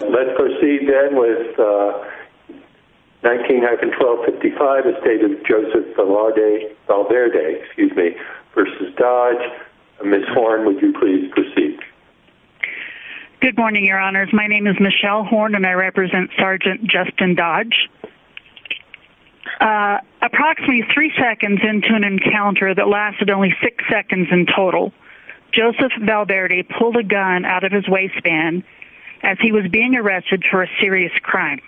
Let's proceed then with 19-1255, a state of Joseph Valverde v. Dodge. Ms. Horn, would you please proceed? Good morning, your honors. My name is Michelle Horn and I represent Sgt. Justin Dodge. Approximately three seconds into an encounter that lasted only six seconds in total, Joseph Valverde pulled a gun out of his waistband as he was being arrested for a serious crime.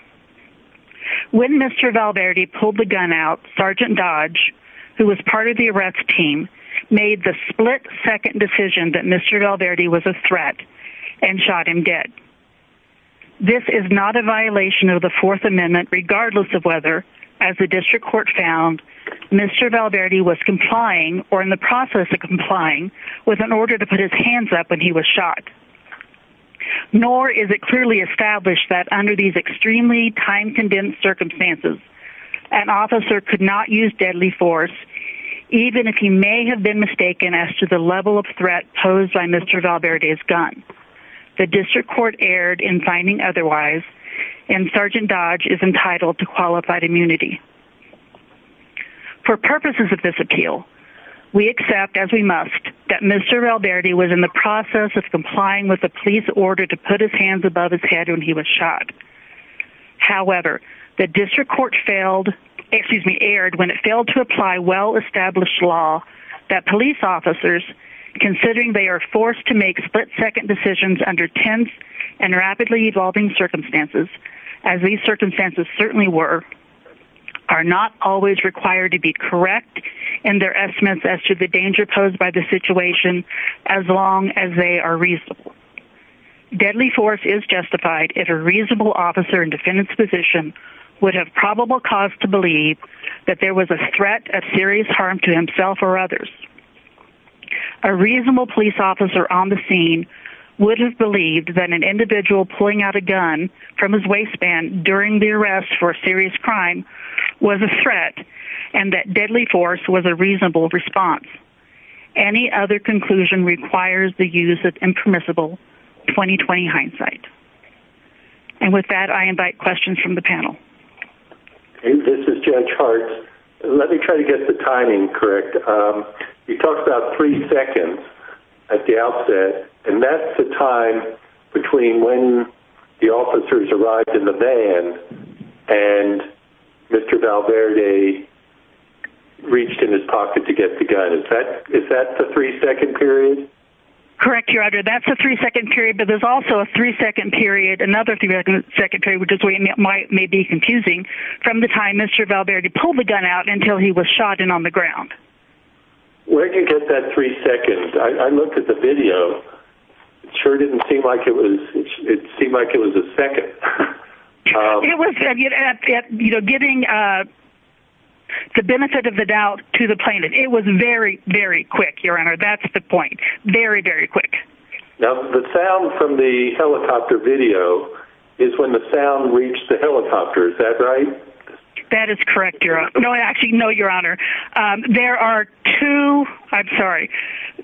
When Mr. Valverde pulled the gun out, Sgt. Dodge, who was part of the arrest team, made the split-second decision that Mr. Valverde was a threat and shot him dead. This is not a violation of the Fourth Amendment, regardless of whether, as the district court found, Mr. Valverde was complying, or in the process of complying, with an order to put his hands up when he was shot. Nor is it clearly established that under these extremely time-condensed circumstances, an officer could not use deadly force, even if he may have been mistaken as to the level of threat posed by Mr. Valverde's gun. The district court erred in finding otherwise, and Sgt. Dodge is entitled to qualified immunity. For purposes of this appeal, we accept, as we must, that Mr. Valverde was in the process of complying with a police order to put his hands above his head when he was shot. However, the district court failed, excuse me, erred when it failed to apply well-established law that police officers, considering they are forced to make split-second decisions under tense and rapidly evolving circumstances, as these circumstances certainly were, are not always required to be correct in their estimates as to the danger posed by the situation, as long as they are reasonable. Deadly force is justified if a reasonable officer in defendant's position would have probable cause to believe that there was a threat of serious harm to himself or others. A reasonable police officer on the scene would have believed that an individual pulling out a gun from his waistband during the arrest for a serious crime was a threat and that deadly force was a reasonable response. Any other conclusion requires the use of impermissible 20-20 hindsight. And with that, I invite questions from the panel. This is Judge Hart. Let me try to get the timing correct. You talked about three seconds at the outset, and that's the time between when the officers arrived in the van and Mr. Valverde reached in his pocket to get the gun. Is that the three-second period? Correct, Your Honor. That's the three-second period, but there's also a three-second period, another three-second period, which may be confusing, from the time Mr. Valverde pulled the gun out until he was shot and on the ground. Where did you get that three seconds? I looked at the video. It sure didn't seem like it was a second. It was getting the benefit of the doubt to the plaintiff. It was very, very quick, Your Honor. That's the point. Very, very quick. Now, the sound from the helicopter video is when the sound reached the helicopter. Is that right? That is correct, Your Honor. No, actually, no, Your Honor. There are two – I'm sorry.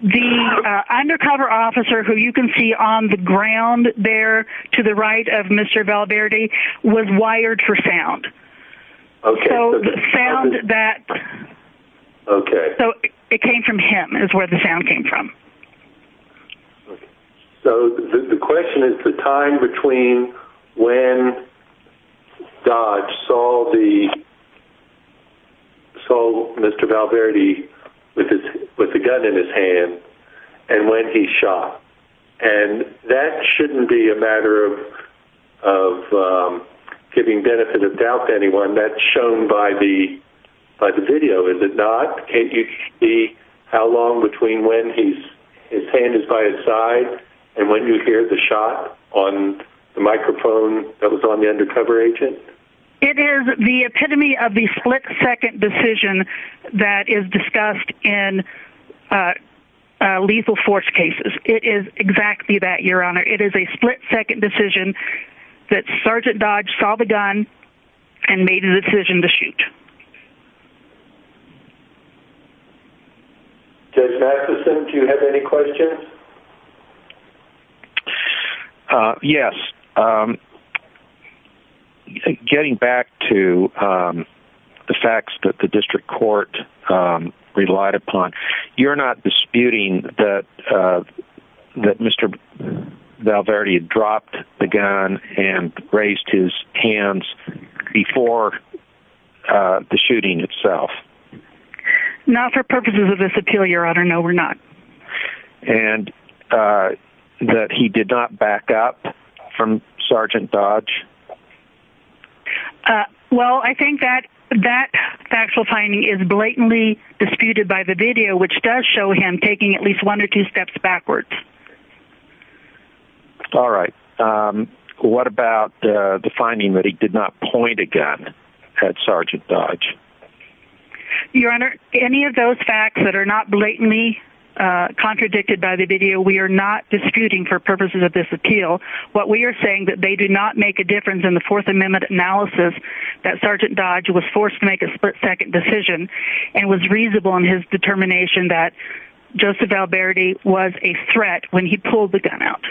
The undercover officer who you can see on the ground there to the right of Mr. Valverde was wired for sound. Okay. So the sound that – Okay. So it came from him is where the sound came from. So the question is the time between when Dodge saw Mr. Valverde with the gun in his hand and when he shot. And that shouldn't be a matter of giving benefit of doubt to anyone. That's shown by the video, is it not? Can't you see how long between when his hand is by his side and when you hear the shot on the microphone that was on the undercover agent? It is the epitome of the split-second decision that is discussed in lethal force cases. It is exactly that, Your Honor. It is a split-second decision that Sergeant Dodge saw the gun and made a decision to shoot. Judge Matheson, do you have any questions? Yes. Getting back to the facts that the district court relied upon, you're not disputing that Mr. Valverde dropped the gun and raised his hands before the shooting itself? Not for purposes of this appeal, Your Honor. No, we're not. And that he did not back up from Sergeant Dodge? Well, I think that factual finding is blatantly disputed by the video, which does show him taking at least one or two steps backwards. All right. What about the finding that he did not point a gun at Sergeant Dodge? Your Honor, any of those facts that are not blatantly contradicted by the video, we are not disputing for purposes of this appeal. What we are saying is that they do not make a difference in the Fourth Amendment analysis that Sergeant Dodge was forced to make a split-second decision and was reasonable in his determination that Joseph Valverde was a threat when he pulled the gun out.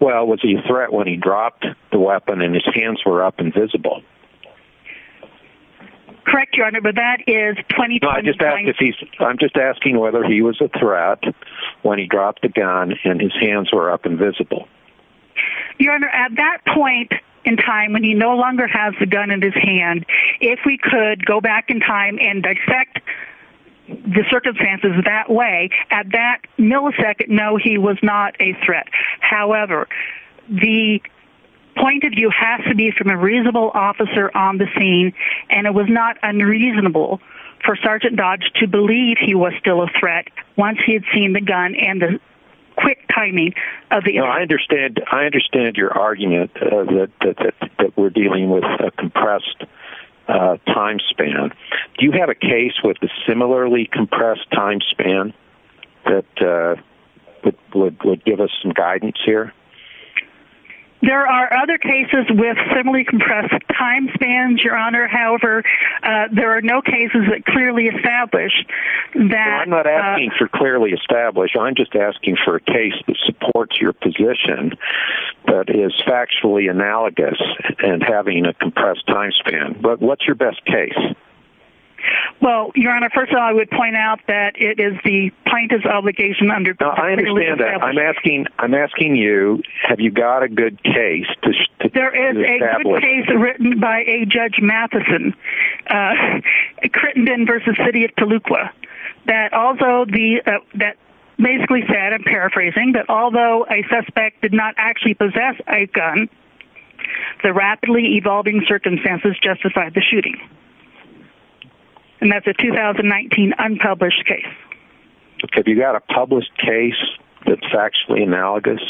Well, was he a threat when he dropped the weapon and his hands were up and visible? Correct, Your Honor, but that is 20 times... No, I'm just asking whether he was a threat when he dropped the gun and his hands were up and visible. Your Honor, at that point in time when he no longer has the gun in his hand, if we could go back in time and dissect the circumstances that way, at that millisecond, no, he was not a threat. However, the point of view has to be from a reasonable officer on the scene, and it was not unreasonable for Sergeant Dodge to believe he was still a threat once he had seen the gun and the quick timing of the... I understand your argument that we're dealing with a compressed time span. Do you have a case with a similarly compressed time span that would give us some guidance here? There are other cases with similarly compressed time spans, Your Honor. However, there are no cases that clearly establish that... Well, I'm not asking for clearly established. I'm just asking for a case that supports your position that is factually analogous and having a compressed time span. But what's your best case? Well, Your Honor, first of all, I would point out that it is the plaintiff's obligation under... I understand that. I'm asking you, have you got a good case to establish? There is a good case written by a Judge Matheson, Crittenden v. City of Toluca, that basically said, I'm paraphrasing, that although a suspect did not actually possess a gun, the rapidly evolving circumstances justified the shooting. And that's a 2019 unpublished case. Have you got a published case that's factually analogous?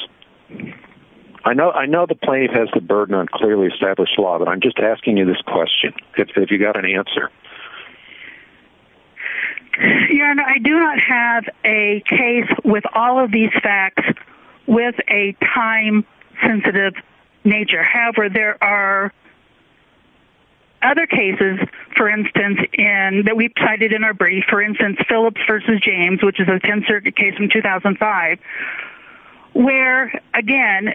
I know the plaintiff has the burden on clearly established law, but I'm just asking you this question. Have you got an answer? Your Honor, I do not have a case with all of these facts with a time-sensitive nature. However, there are other cases, for instance, that we've cited in our brief. For instance, Phillips v. James, which is a 10th Circuit case from 2005, where, again,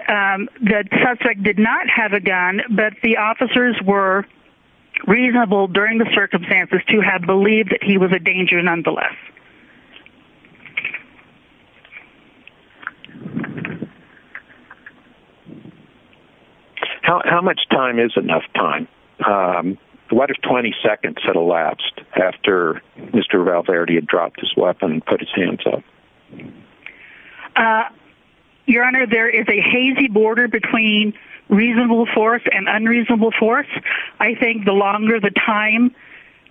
the suspect did not have a gun, but the officers were reasonable during the circumstances to have believed that he was a danger nonetheless. How much time is enough time? What if 20 seconds had elapsed after Mr. Valverde had dropped his weapon and put his hands up? Your Honor, there is a hazy border between reasonable force and unreasonable force. I think the longer the time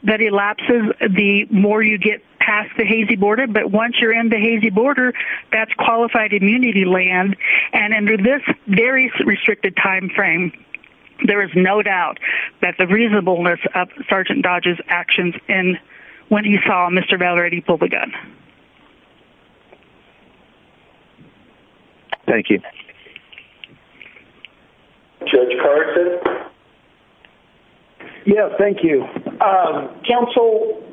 that elapses, the more you get past the hazy border. But once you're in the hazy border, that's qualified immunity land. And under this very restricted time frame, there is no doubt that the reasonableness of Sergeant Dodge's actions when he saw Mr. Valverde pull the gun. Thank you. Judge Carson? Yes, thank you. Counsel...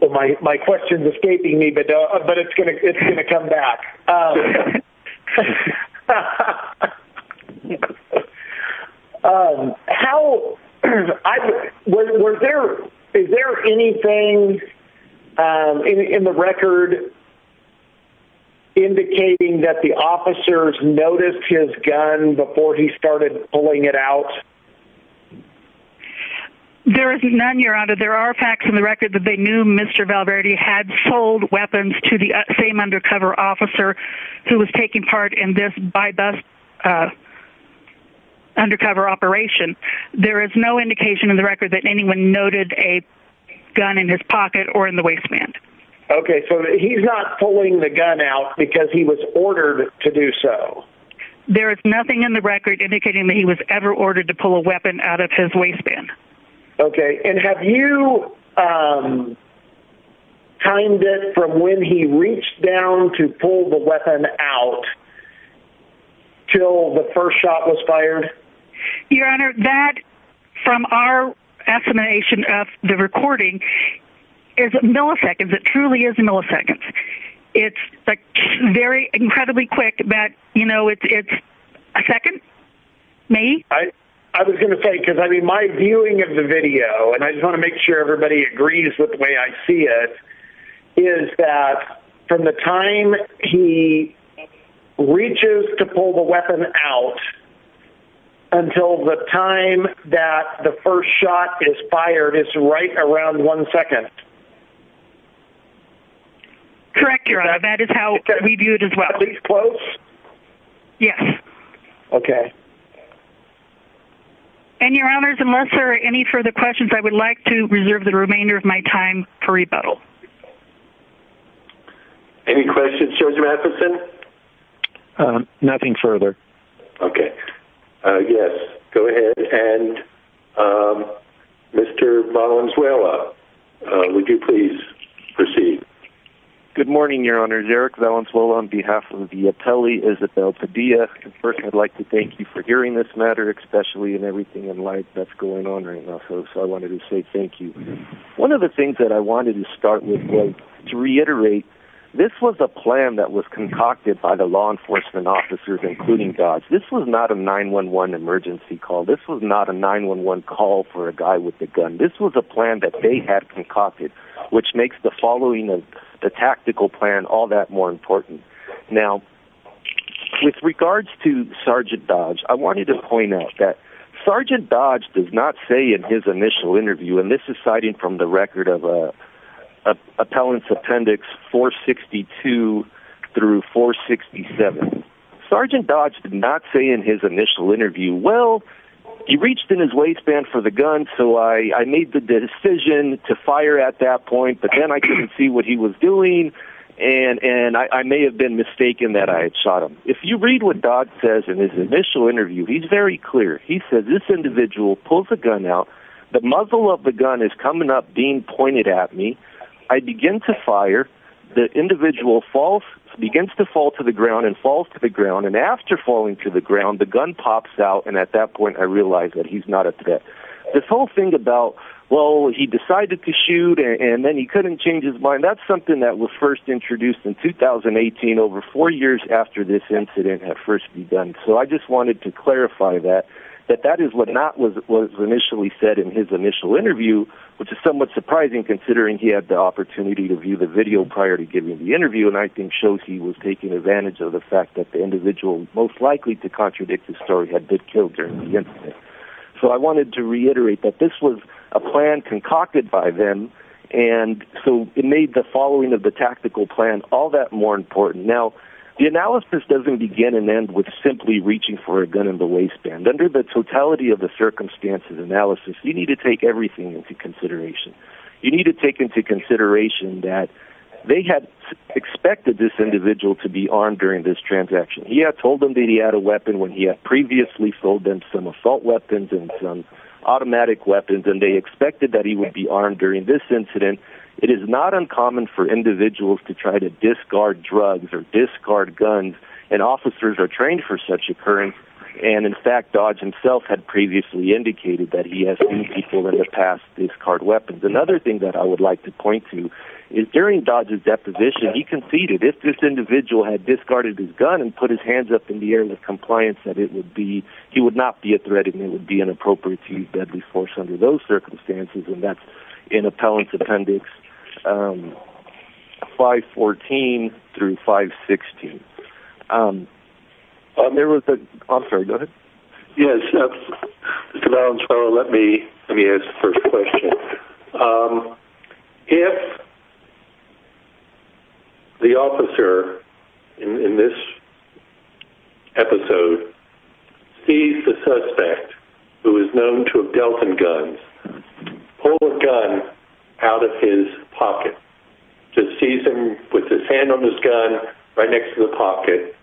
Well, my question is escaping me, but it's going to come back. Um... How... Is there anything in the record indicating that the officers noticed his gun before he started pulling it out? There is none, Your Honor. There are facts in the record that they knew Mr. Valverde had sold weapons to the same undercover officer who was taking part in this by-bus undercover operation. There is no indication in the record that anyone noted a gun in his pocket or in the waistband. Okay, so he's not pulling the gun out because he was ordered to do so. There is nothing in the record indicating that he was ever ordered to pull a weapon out of his waistband. Okay, and have you timed it from when he reached down to pull the weapon out till the first shot was fired? Your Honor, that, from our estimation of the recording, is milliseconds. It truly is milliseconds. It's very incredibly quick, but, you know, it's a second, maybe? I was going to say, because, I mean, my viewing of the video, and I just want to make sure everybody agrees with the way I see it, is that from the time he reaches to pull the weapon out until the time that the first shot is fired is right around one second. Correct, Your Honor, that is how we view it as well. Is that at least close? Yes. Okay. And, Your Honors, unless there are any further questions, I would like to reserve the remainder of my time for rebuttal. Any questions, Judge Matheson? Nothing further. Okay, yes, go ahead, and Mr. Valenzuela, would you please proceed? Good morning, Your Honors. Eric Valenzuela on behalf of the Atelier Isabel Padilla. First, I'd like to thank you for hearing this matter, especially in everything in light that's going on right now. So I wanted to say thank you. One of the things that I wanted to start with was to reiterate, this was a plan that was concocted by the law enforcement officers, including Dodge. This was not a 911 emergency call. This was not a 911 call for a guy with a gun. This was a plan that they had concocted, which makes the following, the tactical plan, all that more important. Now, with regards to Sergeant Dodge, I wanted to point out that Sergeant Dodge did not say in his initial interview, and this is citing from the record of Appellant Appendix 462 through 467, Sergeant Dodge did not say in his initial interview, well, he reached in his waistband for the gun, so I made the decision to fire at that point, but then I couldn't see what he was doing, and I may have been mistaken that I had shot him. If you read what Dodge says in his initial interview, he's very clear. He says, this individual pulls a gun out, the muzzle of the gun is coming up, being pointed at me. I begin to fire. The individual falls, begins to fall to the ground and falls to the ground, and after falling to the ground, the gun pops out, and at that point I realize that he's not a threat. This whole thing about, well, he decided to shoot and then he couldn't change his mind, that's something that was first introduced in 2018, over four years after this incident had first begun. So I just wanted to clarify that, that that is what was initially said in his initial interview, which is somewhat surprising considering he had the opportunity to view the video prior to giving the interview, and I think shows he was taking advantage of the fact that the individual most likely to contradict the story had been killed during the incident. So I wanted to reiterate that this was a plan concocted by them, and so it made the following of the tactical plan all that more important. Now, the analysis doesn't begin and end with simply reaching for a gun in the waistband. Under the totality of the circumstances analysis, you need to take everything into consideration. You need to take into consideration that they had expected this individual to be armed during this transaction. He had told them that he had a weapon when he had previously sold them some assault weapons and some automatic weapons, and they expected that he would be armed during this incident. It is not uncommon for individuals to try to discard drugs or discard guns, and officers are trained for such occurrence, and in fact Dodge himself had previously indicated that he has seen people in the past discard weapons. Another thing that I would like to point to is during Dodge's deposition, he conceded if this individual had discarded his gun and put his hands up in the area of compliance, that he would not be a threat and it would be inappropriate to use deadly force under those circumstances, and that's in appellant's appendix 514 through 516. There was a, I'm sorry, go ahead. Yes, Mr. Valenzuela, let me ask the first question. If the officer in this episode sees the suspect, who is known to have dealt in guns, pull a gun out of his pocket, just sees him with his hand on his gun right next to the pocket,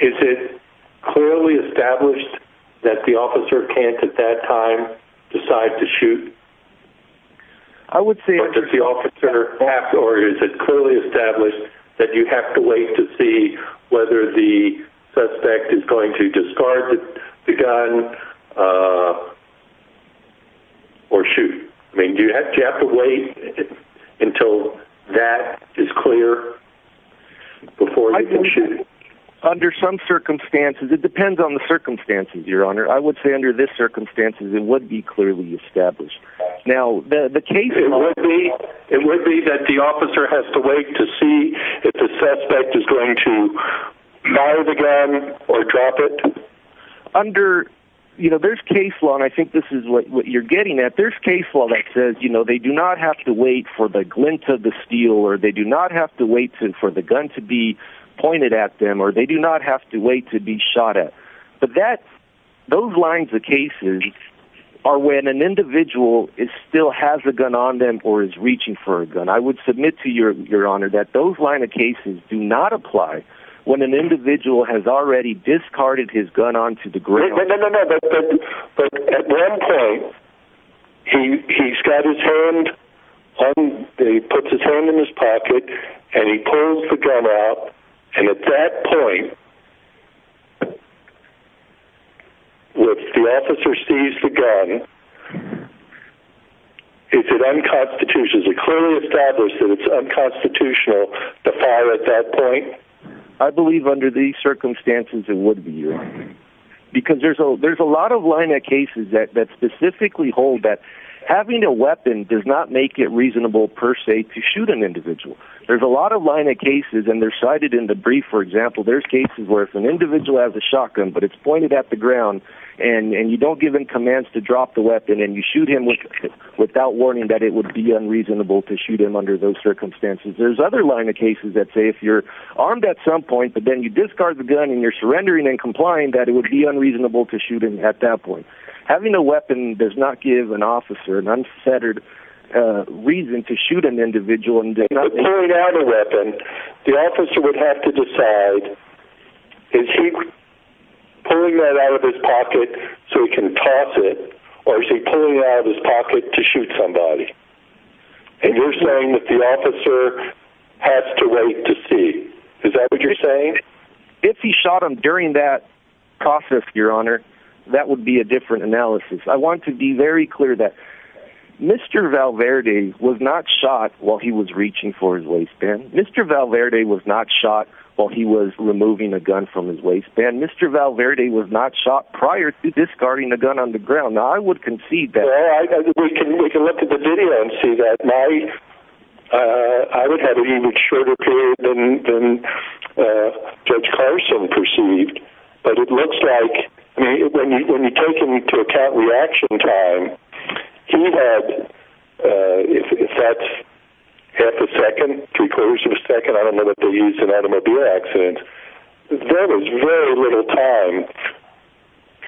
is it clearly established that the officer can't at that time decide to shoot? I would say... Or is it clearly established that you have to wait to see whether the suspect is going to discard the gun or shoot? I mean, do you have to wait until that is clear before you can shoot? Under some circumstances. It depends on the circumstances, Your Honor. I would say under this circumstances, it would be clearly established. Now, the case... It would be that the officer has to wait to see if the suspect is going to fire the gun or drop it? Under, you know, there's case law, and I think this is what you're getting at. There's case law that says, you know, they do not have to wait for the glint of the steel, or they do not have to wait for the gun to be pointed at them, or they do not have to wait to be shot at. But those lines of cases are when an individual still has a gun on them or is reaching for a gun. I would submit to you, Your Honor, that those line of cases do not apply But at one point, he's got his hand on...he puts his hand in his pocket and he pulls the gun out, and at that point, if the officer sees the gun, is it unconstitutional? Is it clearly established that it's unconstitutional to fire at that point? I believe under these circumstances, it would be, Your Honor. Because there's a lot of line of cases that specifically hold that having a weapon does not make it reasonable, per se, to shoot an individual. There's a lot of line of cases, and they're cited in the brief, for example. There's cases where if an individual has a shotgun, but it's pointed at the ground, and you don't give him commands to drop the weapon, and you shoot him without warning that it would be unreasonable to shoot him under those circumstances. There's other line of cases that say if you're armed at some point, but then you discard the gun and you're surrendering and complying, that it would be unreasonable to shoot him at that point. Having a weapon does not give an officer an unfettered reason to shoot an individual. But pulling out a weapon, the officer would have to decide, is he pulling that out of his pocket so he can toss it, or is he pulling it out of his pocket to shoot somebody? And you're saying that the officer has to wait to see. Is that what you're saying? If he shot him during that process, Your Honor, that would be a different analysis. I want to be very clear that Mr. Valverde was not shot while he was reaching for his waistband. Mr. Valverde was not shot while he was removing a gun from his waistband. Mr. Valverde was not shot prior to discarding a gun on the ground. Now, I would concede that. I would have an even shorter period than Judge Carson perceived, but it looks like when you take into account reaction time, he had, if that's half a second, three-quarters of a second, I don't know that they used an automobile accident, there was very little time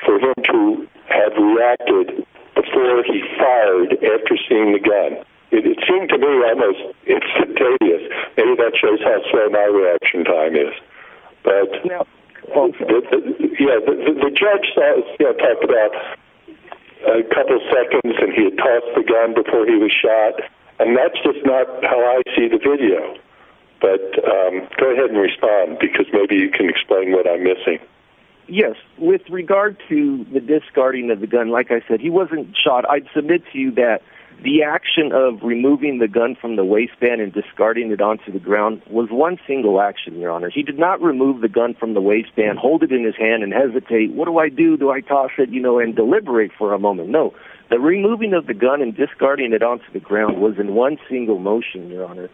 for him to have reacted before he fired after seeing the gun. It seemed to me almost instantaneous. Maybe that shows how slow my reaction time is. But the judge talked about a couple seconds and he had tossed the gun before he was shot, and that's just not how I see the video. But go ahead and respond because maybe you can explain what I'm missing. Yes. With regard to the discarding of the gun, like I said, he wasn't shot. I'd submit to you that the action of removing the gun from the waistband and discarding it onto the ground was one single action, Your Honor. He did not remove the gun from the waistband, hold it in his hand, and hesitate. What do I do? Do I toss it, you know, and deliberate for a moment? No. The removing of the gun and discarding it onto the ground was in one single motion, Your Honor.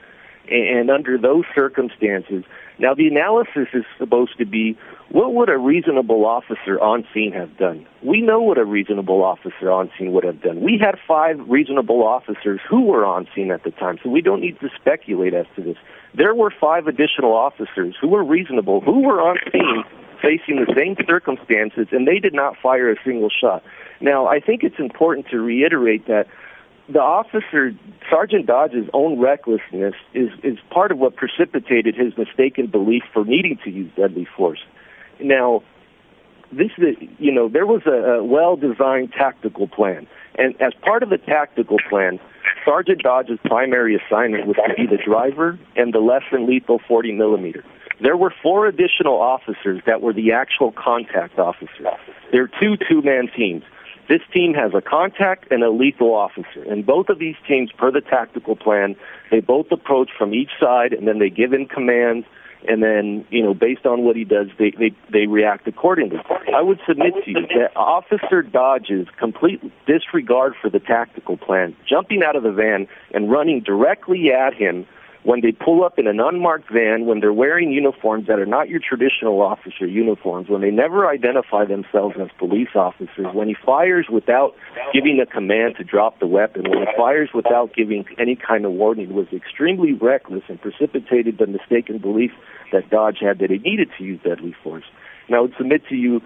And under those circumstances, now the analysis is supposed to be what would a reasonable officer on scene have done? We know what a reasonable officer on scene would have done. We had five reasonable officers who were on scene at the time, so we don't need to speculate as to this. There were five additional officers who were reasonable, who were on scene facing the same circumstances, and they did not fire a single shot. Now, I think it's important to reiterate that the officer, Sergeant Dodge's own recklessness, is part of what precipitated his mistaken belief for needing to use deadly force. Now, you know, there was a well-designed tactical plan, and as part of the tactical plan, Sergeant Dodge's primary assignment was to be the driver and the less than lethal 40-millimeter. There were four additional officers that were the actual contact officers. They're two two-man teams. This team has a contact and a lethal officer, and both of these teams, per the tactical plan, they both approach from each side, and then they give him commands, and then, you know, based on what he does, they react accordingly. I would submit to you that Officer Dodge is completely disregard for the tactical plan, jumping out of the van and running directly at him when they pull up in an unmarked van, when they're wearing uniforms that are not your traditional officer uniforms, when they never identify themselves as police officers, when he fires without giving a command to drop the weapon, when he fires without giving any kind of warning, was extremely reckless and precipitated the mistaken belief that Dodge had that he needed to use deadly force. And I would submit to you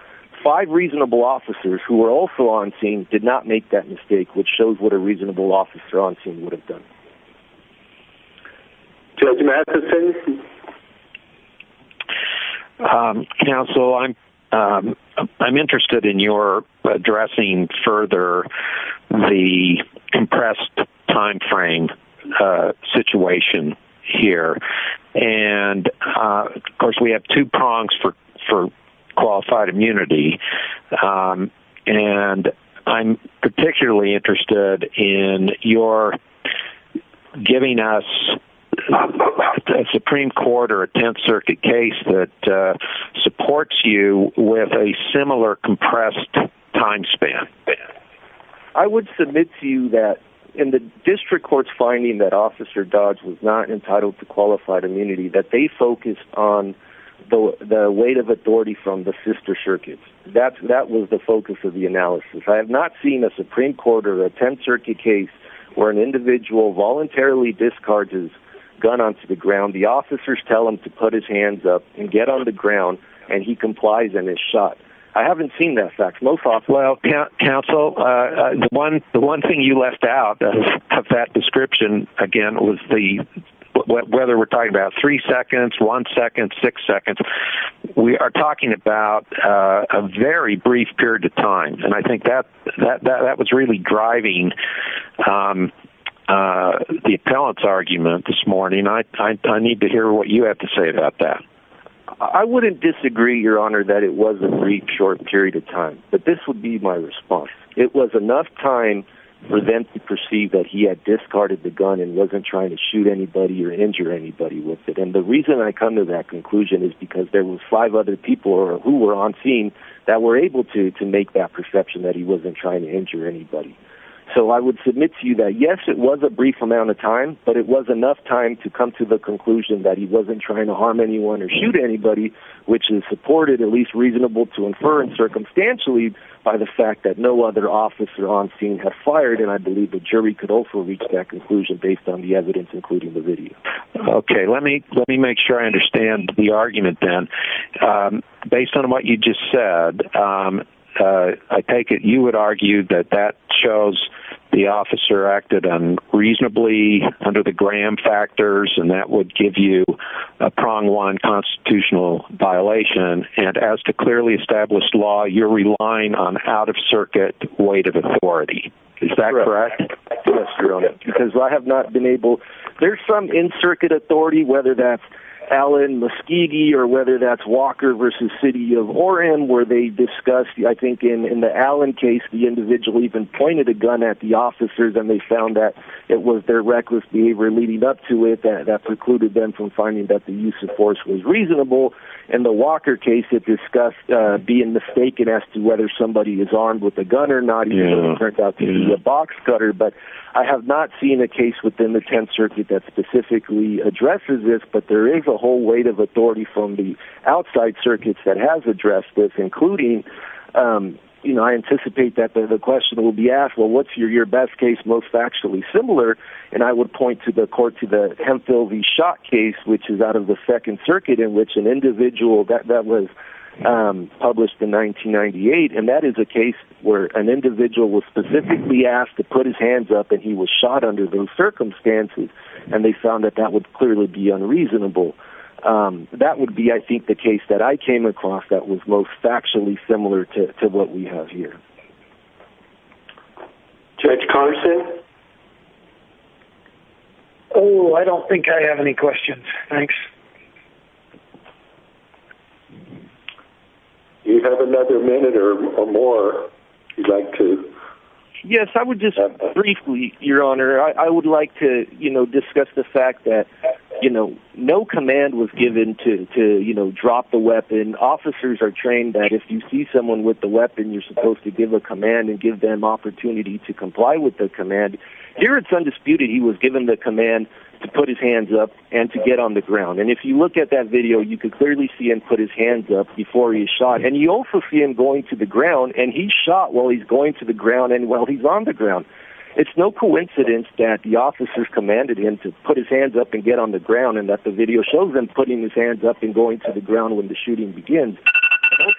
five reasonable officers who were also on scene did not make that mistake, which shows what a reasonable officer on scene would have done. Judge Matheson? Counsel, I'm interested in your addressing further the compressed timeframe situation here. And, of course, we have two prongs for qualified immunity, and I'm particularly interested in your giving us a Supreme Court or a Tenth Circuit case that supports you with a similar compressed time span. I would submit to you that in the district court's finding that Officer Dodge was not entitled to qualified immunity, that they focused on the weight of authority from the sister circuits. That was the focus of the analysis. I have not seen a Supreme Court or a Tenth Circuit case where an individual voluntarily discharges a gun onto the ground, the officers tell him to put his hands up and get on the ground, and he complies and is shot. I haven't seen that fact. Whether we're talking about three seconds, one second, six seconds, we are talking about a very brief period of time, and I think that was really driving the appellant's argument this morning. I need to hear what you have to say about that. I wouldn't disagree, Your Honor, that it was a brief, short period of time, but this would be my response. It was enough time for them to perceive that he had discarded the gun and wasn't trying to shoot anybody or injure anybody with it. And the reason I come to that conclusion is because there were five other people who were on scene that were able to make that perception that he wasn't trying to injure anybody. So I would submit to you that, yes, it was a brief amount of time, but it was enough time to come to the conclusion that he wasn't trying to harm anyone or shoot anybody, which is supported, at least reasonable to infer, and circumstantially by the fact that no other officer on scene had fired, and I believe the jury could also reach that conclusion based on the evidence, including the video. Okay. Let me make sure I understand the argument then. Based on what you just said, I take it you would argue that that shows the officer acted unreasonably under the Graham factors, and that would give you a prong one constitutional violation, and as to clearly established law, you're relying on out-of-circuit weight of authority. Is that correct? Yes, Your Honor, because I have not been able to. There's some in-circuit authority, whether that's Allen, Muskegee, or whether that's Walker v. City of Orem, where they discussed, I think in the Allen case, the individual even pointed a gun at the officers, and they found that it was their reckless behavior leading up to it that precluded them from finding that the use of force was reasonable. It turned out to be a box cutter, but I have not seen a case within the Tenth Circuit that specifically addresses this, but there is a whole weight of authority from the outside circuits that have addressed this, including, you know, I anticipate that the question will be asked, well, what's your best case most factually similar? And I would point to the court to the Hemphill v. Schott case, which is out of the Second Circuit, in which an individual that was published in 1998, and that is a case where an individual was specifically asked to put his hands up, and he was shot under those circumstances, and they found that that would clearly be unreasonable. That would be, I think, the case that I came across that was most factually similar to what we have here. Judge Carson? Oh, I don't think I have any questions. Thanks. Do you have another minute or more if you'd like to? Yes, I would just briefly, Your Honor. I would like to, you know, discuss the fact that, you know, no command was given to, you know, drop the weapon. Officers are trained that if you see someone with the weapon, you're supposed to give a command and give them opportunity to comply with the command. Here it's undisputed he was given the command to put his hands up and to get on the ground, and if you look at that video, you can clearly see him put his hands up before he's shot, and you also see him going to the ground, and he's shot while he's going to the ground and while he's on the ground. It's no coincidence that the officers commanded him to put his hands up and get on the ground and that the video shows him putting his hands up and going to the ground when the shooting begins.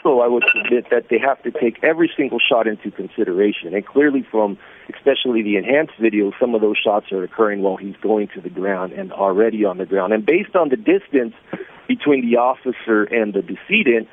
Also, I would submit that they have to take every single shot into consideration, and clearly from especially the enhanced video, some of those shots are occurring while he's going to the ground and already on the ground. And based on the distance between the officer and the decedent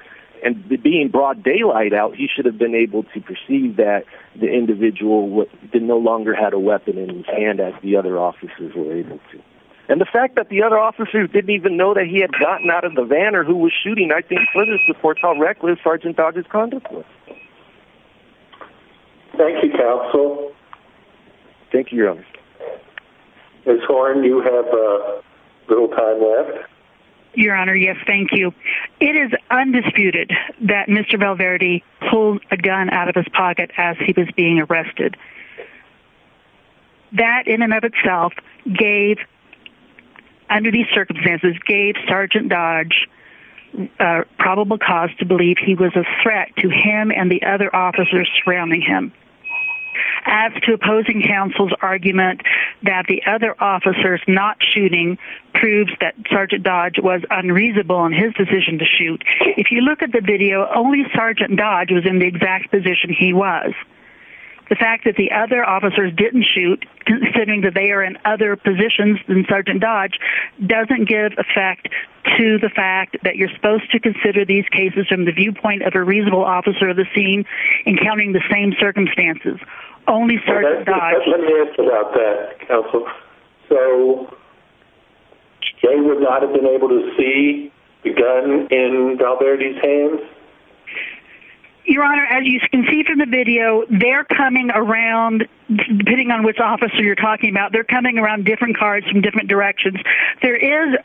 and being broad daylight out, he should have been able to perceive that the individual no longer had a weapon in his hand, as the other officers were able to. And the fact that the other officers didn't even know that he had gotten out of the van or who was shooting, I think further supports how reckless Sergeant Dodge's conduct was. Thank you, counsel. Thank you, Your Honor. Ms. Horne, you have a little time left. Your Honor, yes, thank you. It is undisputed that Mr. Valverde pulled a gun out of his pocket as he was being arrested. That in and of itself gave, under these circumstances, gave Sergeant Dodge a probable cause to believe he was a threat to him and the other officers surrounding him. As to opposing counsel's argument that the other officers not shooting proves that Sergeant Dodge was unreasonable in his decision to shoot, if you look at the video, only Sergeant Dodge was in the exact position he was. The fact that the other officers didn't shoot, considering that they are in other positions than Sergeant Dodge, doesn't give effect to the fact that you're supposed to consider these cases from the viewpoint of a reasonable officer of the scene in counting the same circumstances. Only Sergeant Dodge... Let me ask about that, counsel. So, they would not have been able to see the gun in Valverde's hands? Your Honor, as you can see from the video, they're coming around, depending on which officer you're talking about, they're coming around different cars from different directions. There is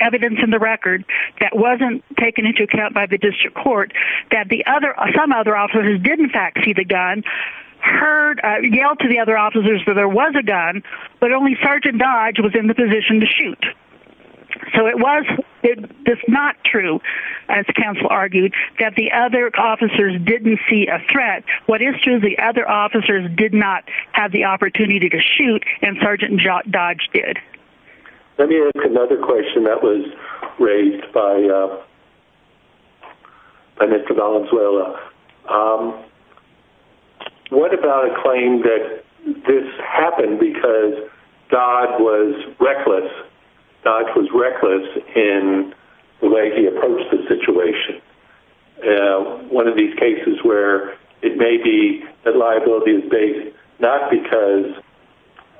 evidence in the record that wasn't taken into account by the district court that some other officers did, in fact, see the gun, yelled to the other officers that there was a gun, but only Sergeant Dodge was in the position to shoot. So, it's not true, as counsel argued, that the other officers didn't see a threat. What is true is the other officers did not have the opportunity to shoot, and Sergeant Dodge did. Let me ask another question that was raised by Mr. Valenzuela. What about a claim that this happened because Dodge was reckless? Dodge was reckless in the way he approached the situation? One of these cases where it may be that liability is based not because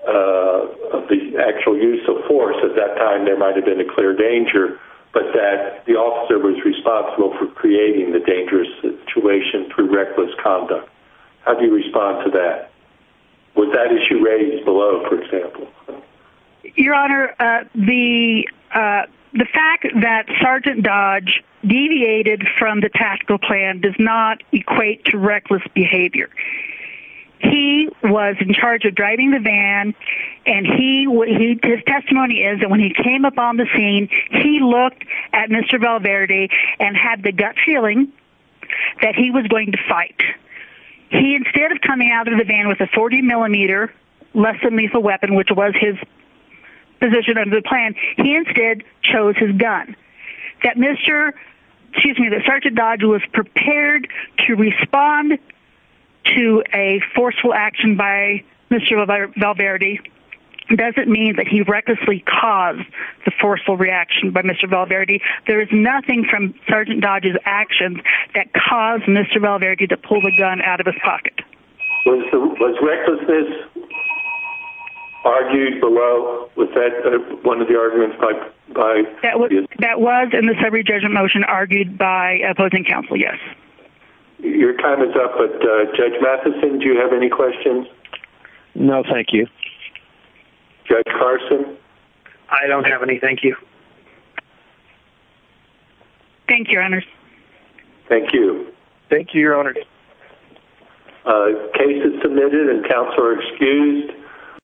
of the actual use of force, at that time there might have been a clear danger, but that the officer was responsible for creating the dangerous situation through reckless conduct. How do you respond to that? Would that issue raise below, for example? Your Honor, the fact that Sergeant Dodge deviated from the tactical plan does not equate to reckless behavior. He was in charge of driving the van, and his testimony is that when he came up on the scene, he looked at Mr. Valverde and had the gut feeling that he was going to fight. He instead of coming out of the van with a 40mm less than lethal weapon, which was his position under the plan, he instead chose his gun. That Sergeant Dodge was prepared to respond to a forceful action by Mr. Valverde doesn't mean that he recklessly caused the forceful reaction by Mr. Valverde. There is nothing from Sergeant Dodge's actions that caused Mr. Valverde to pull the gun out of his pocket. Was recklessness argued below? Was that one of the arguments? That was in the summary judgment motion argued by opposing counsel, yes. Your time is up, but Judge Matheson, do you have any questions? No, thank you. Judge Carson? I don't have any, thank you. Thank you, Your Honor. Thank you. Thank you, Your Honor.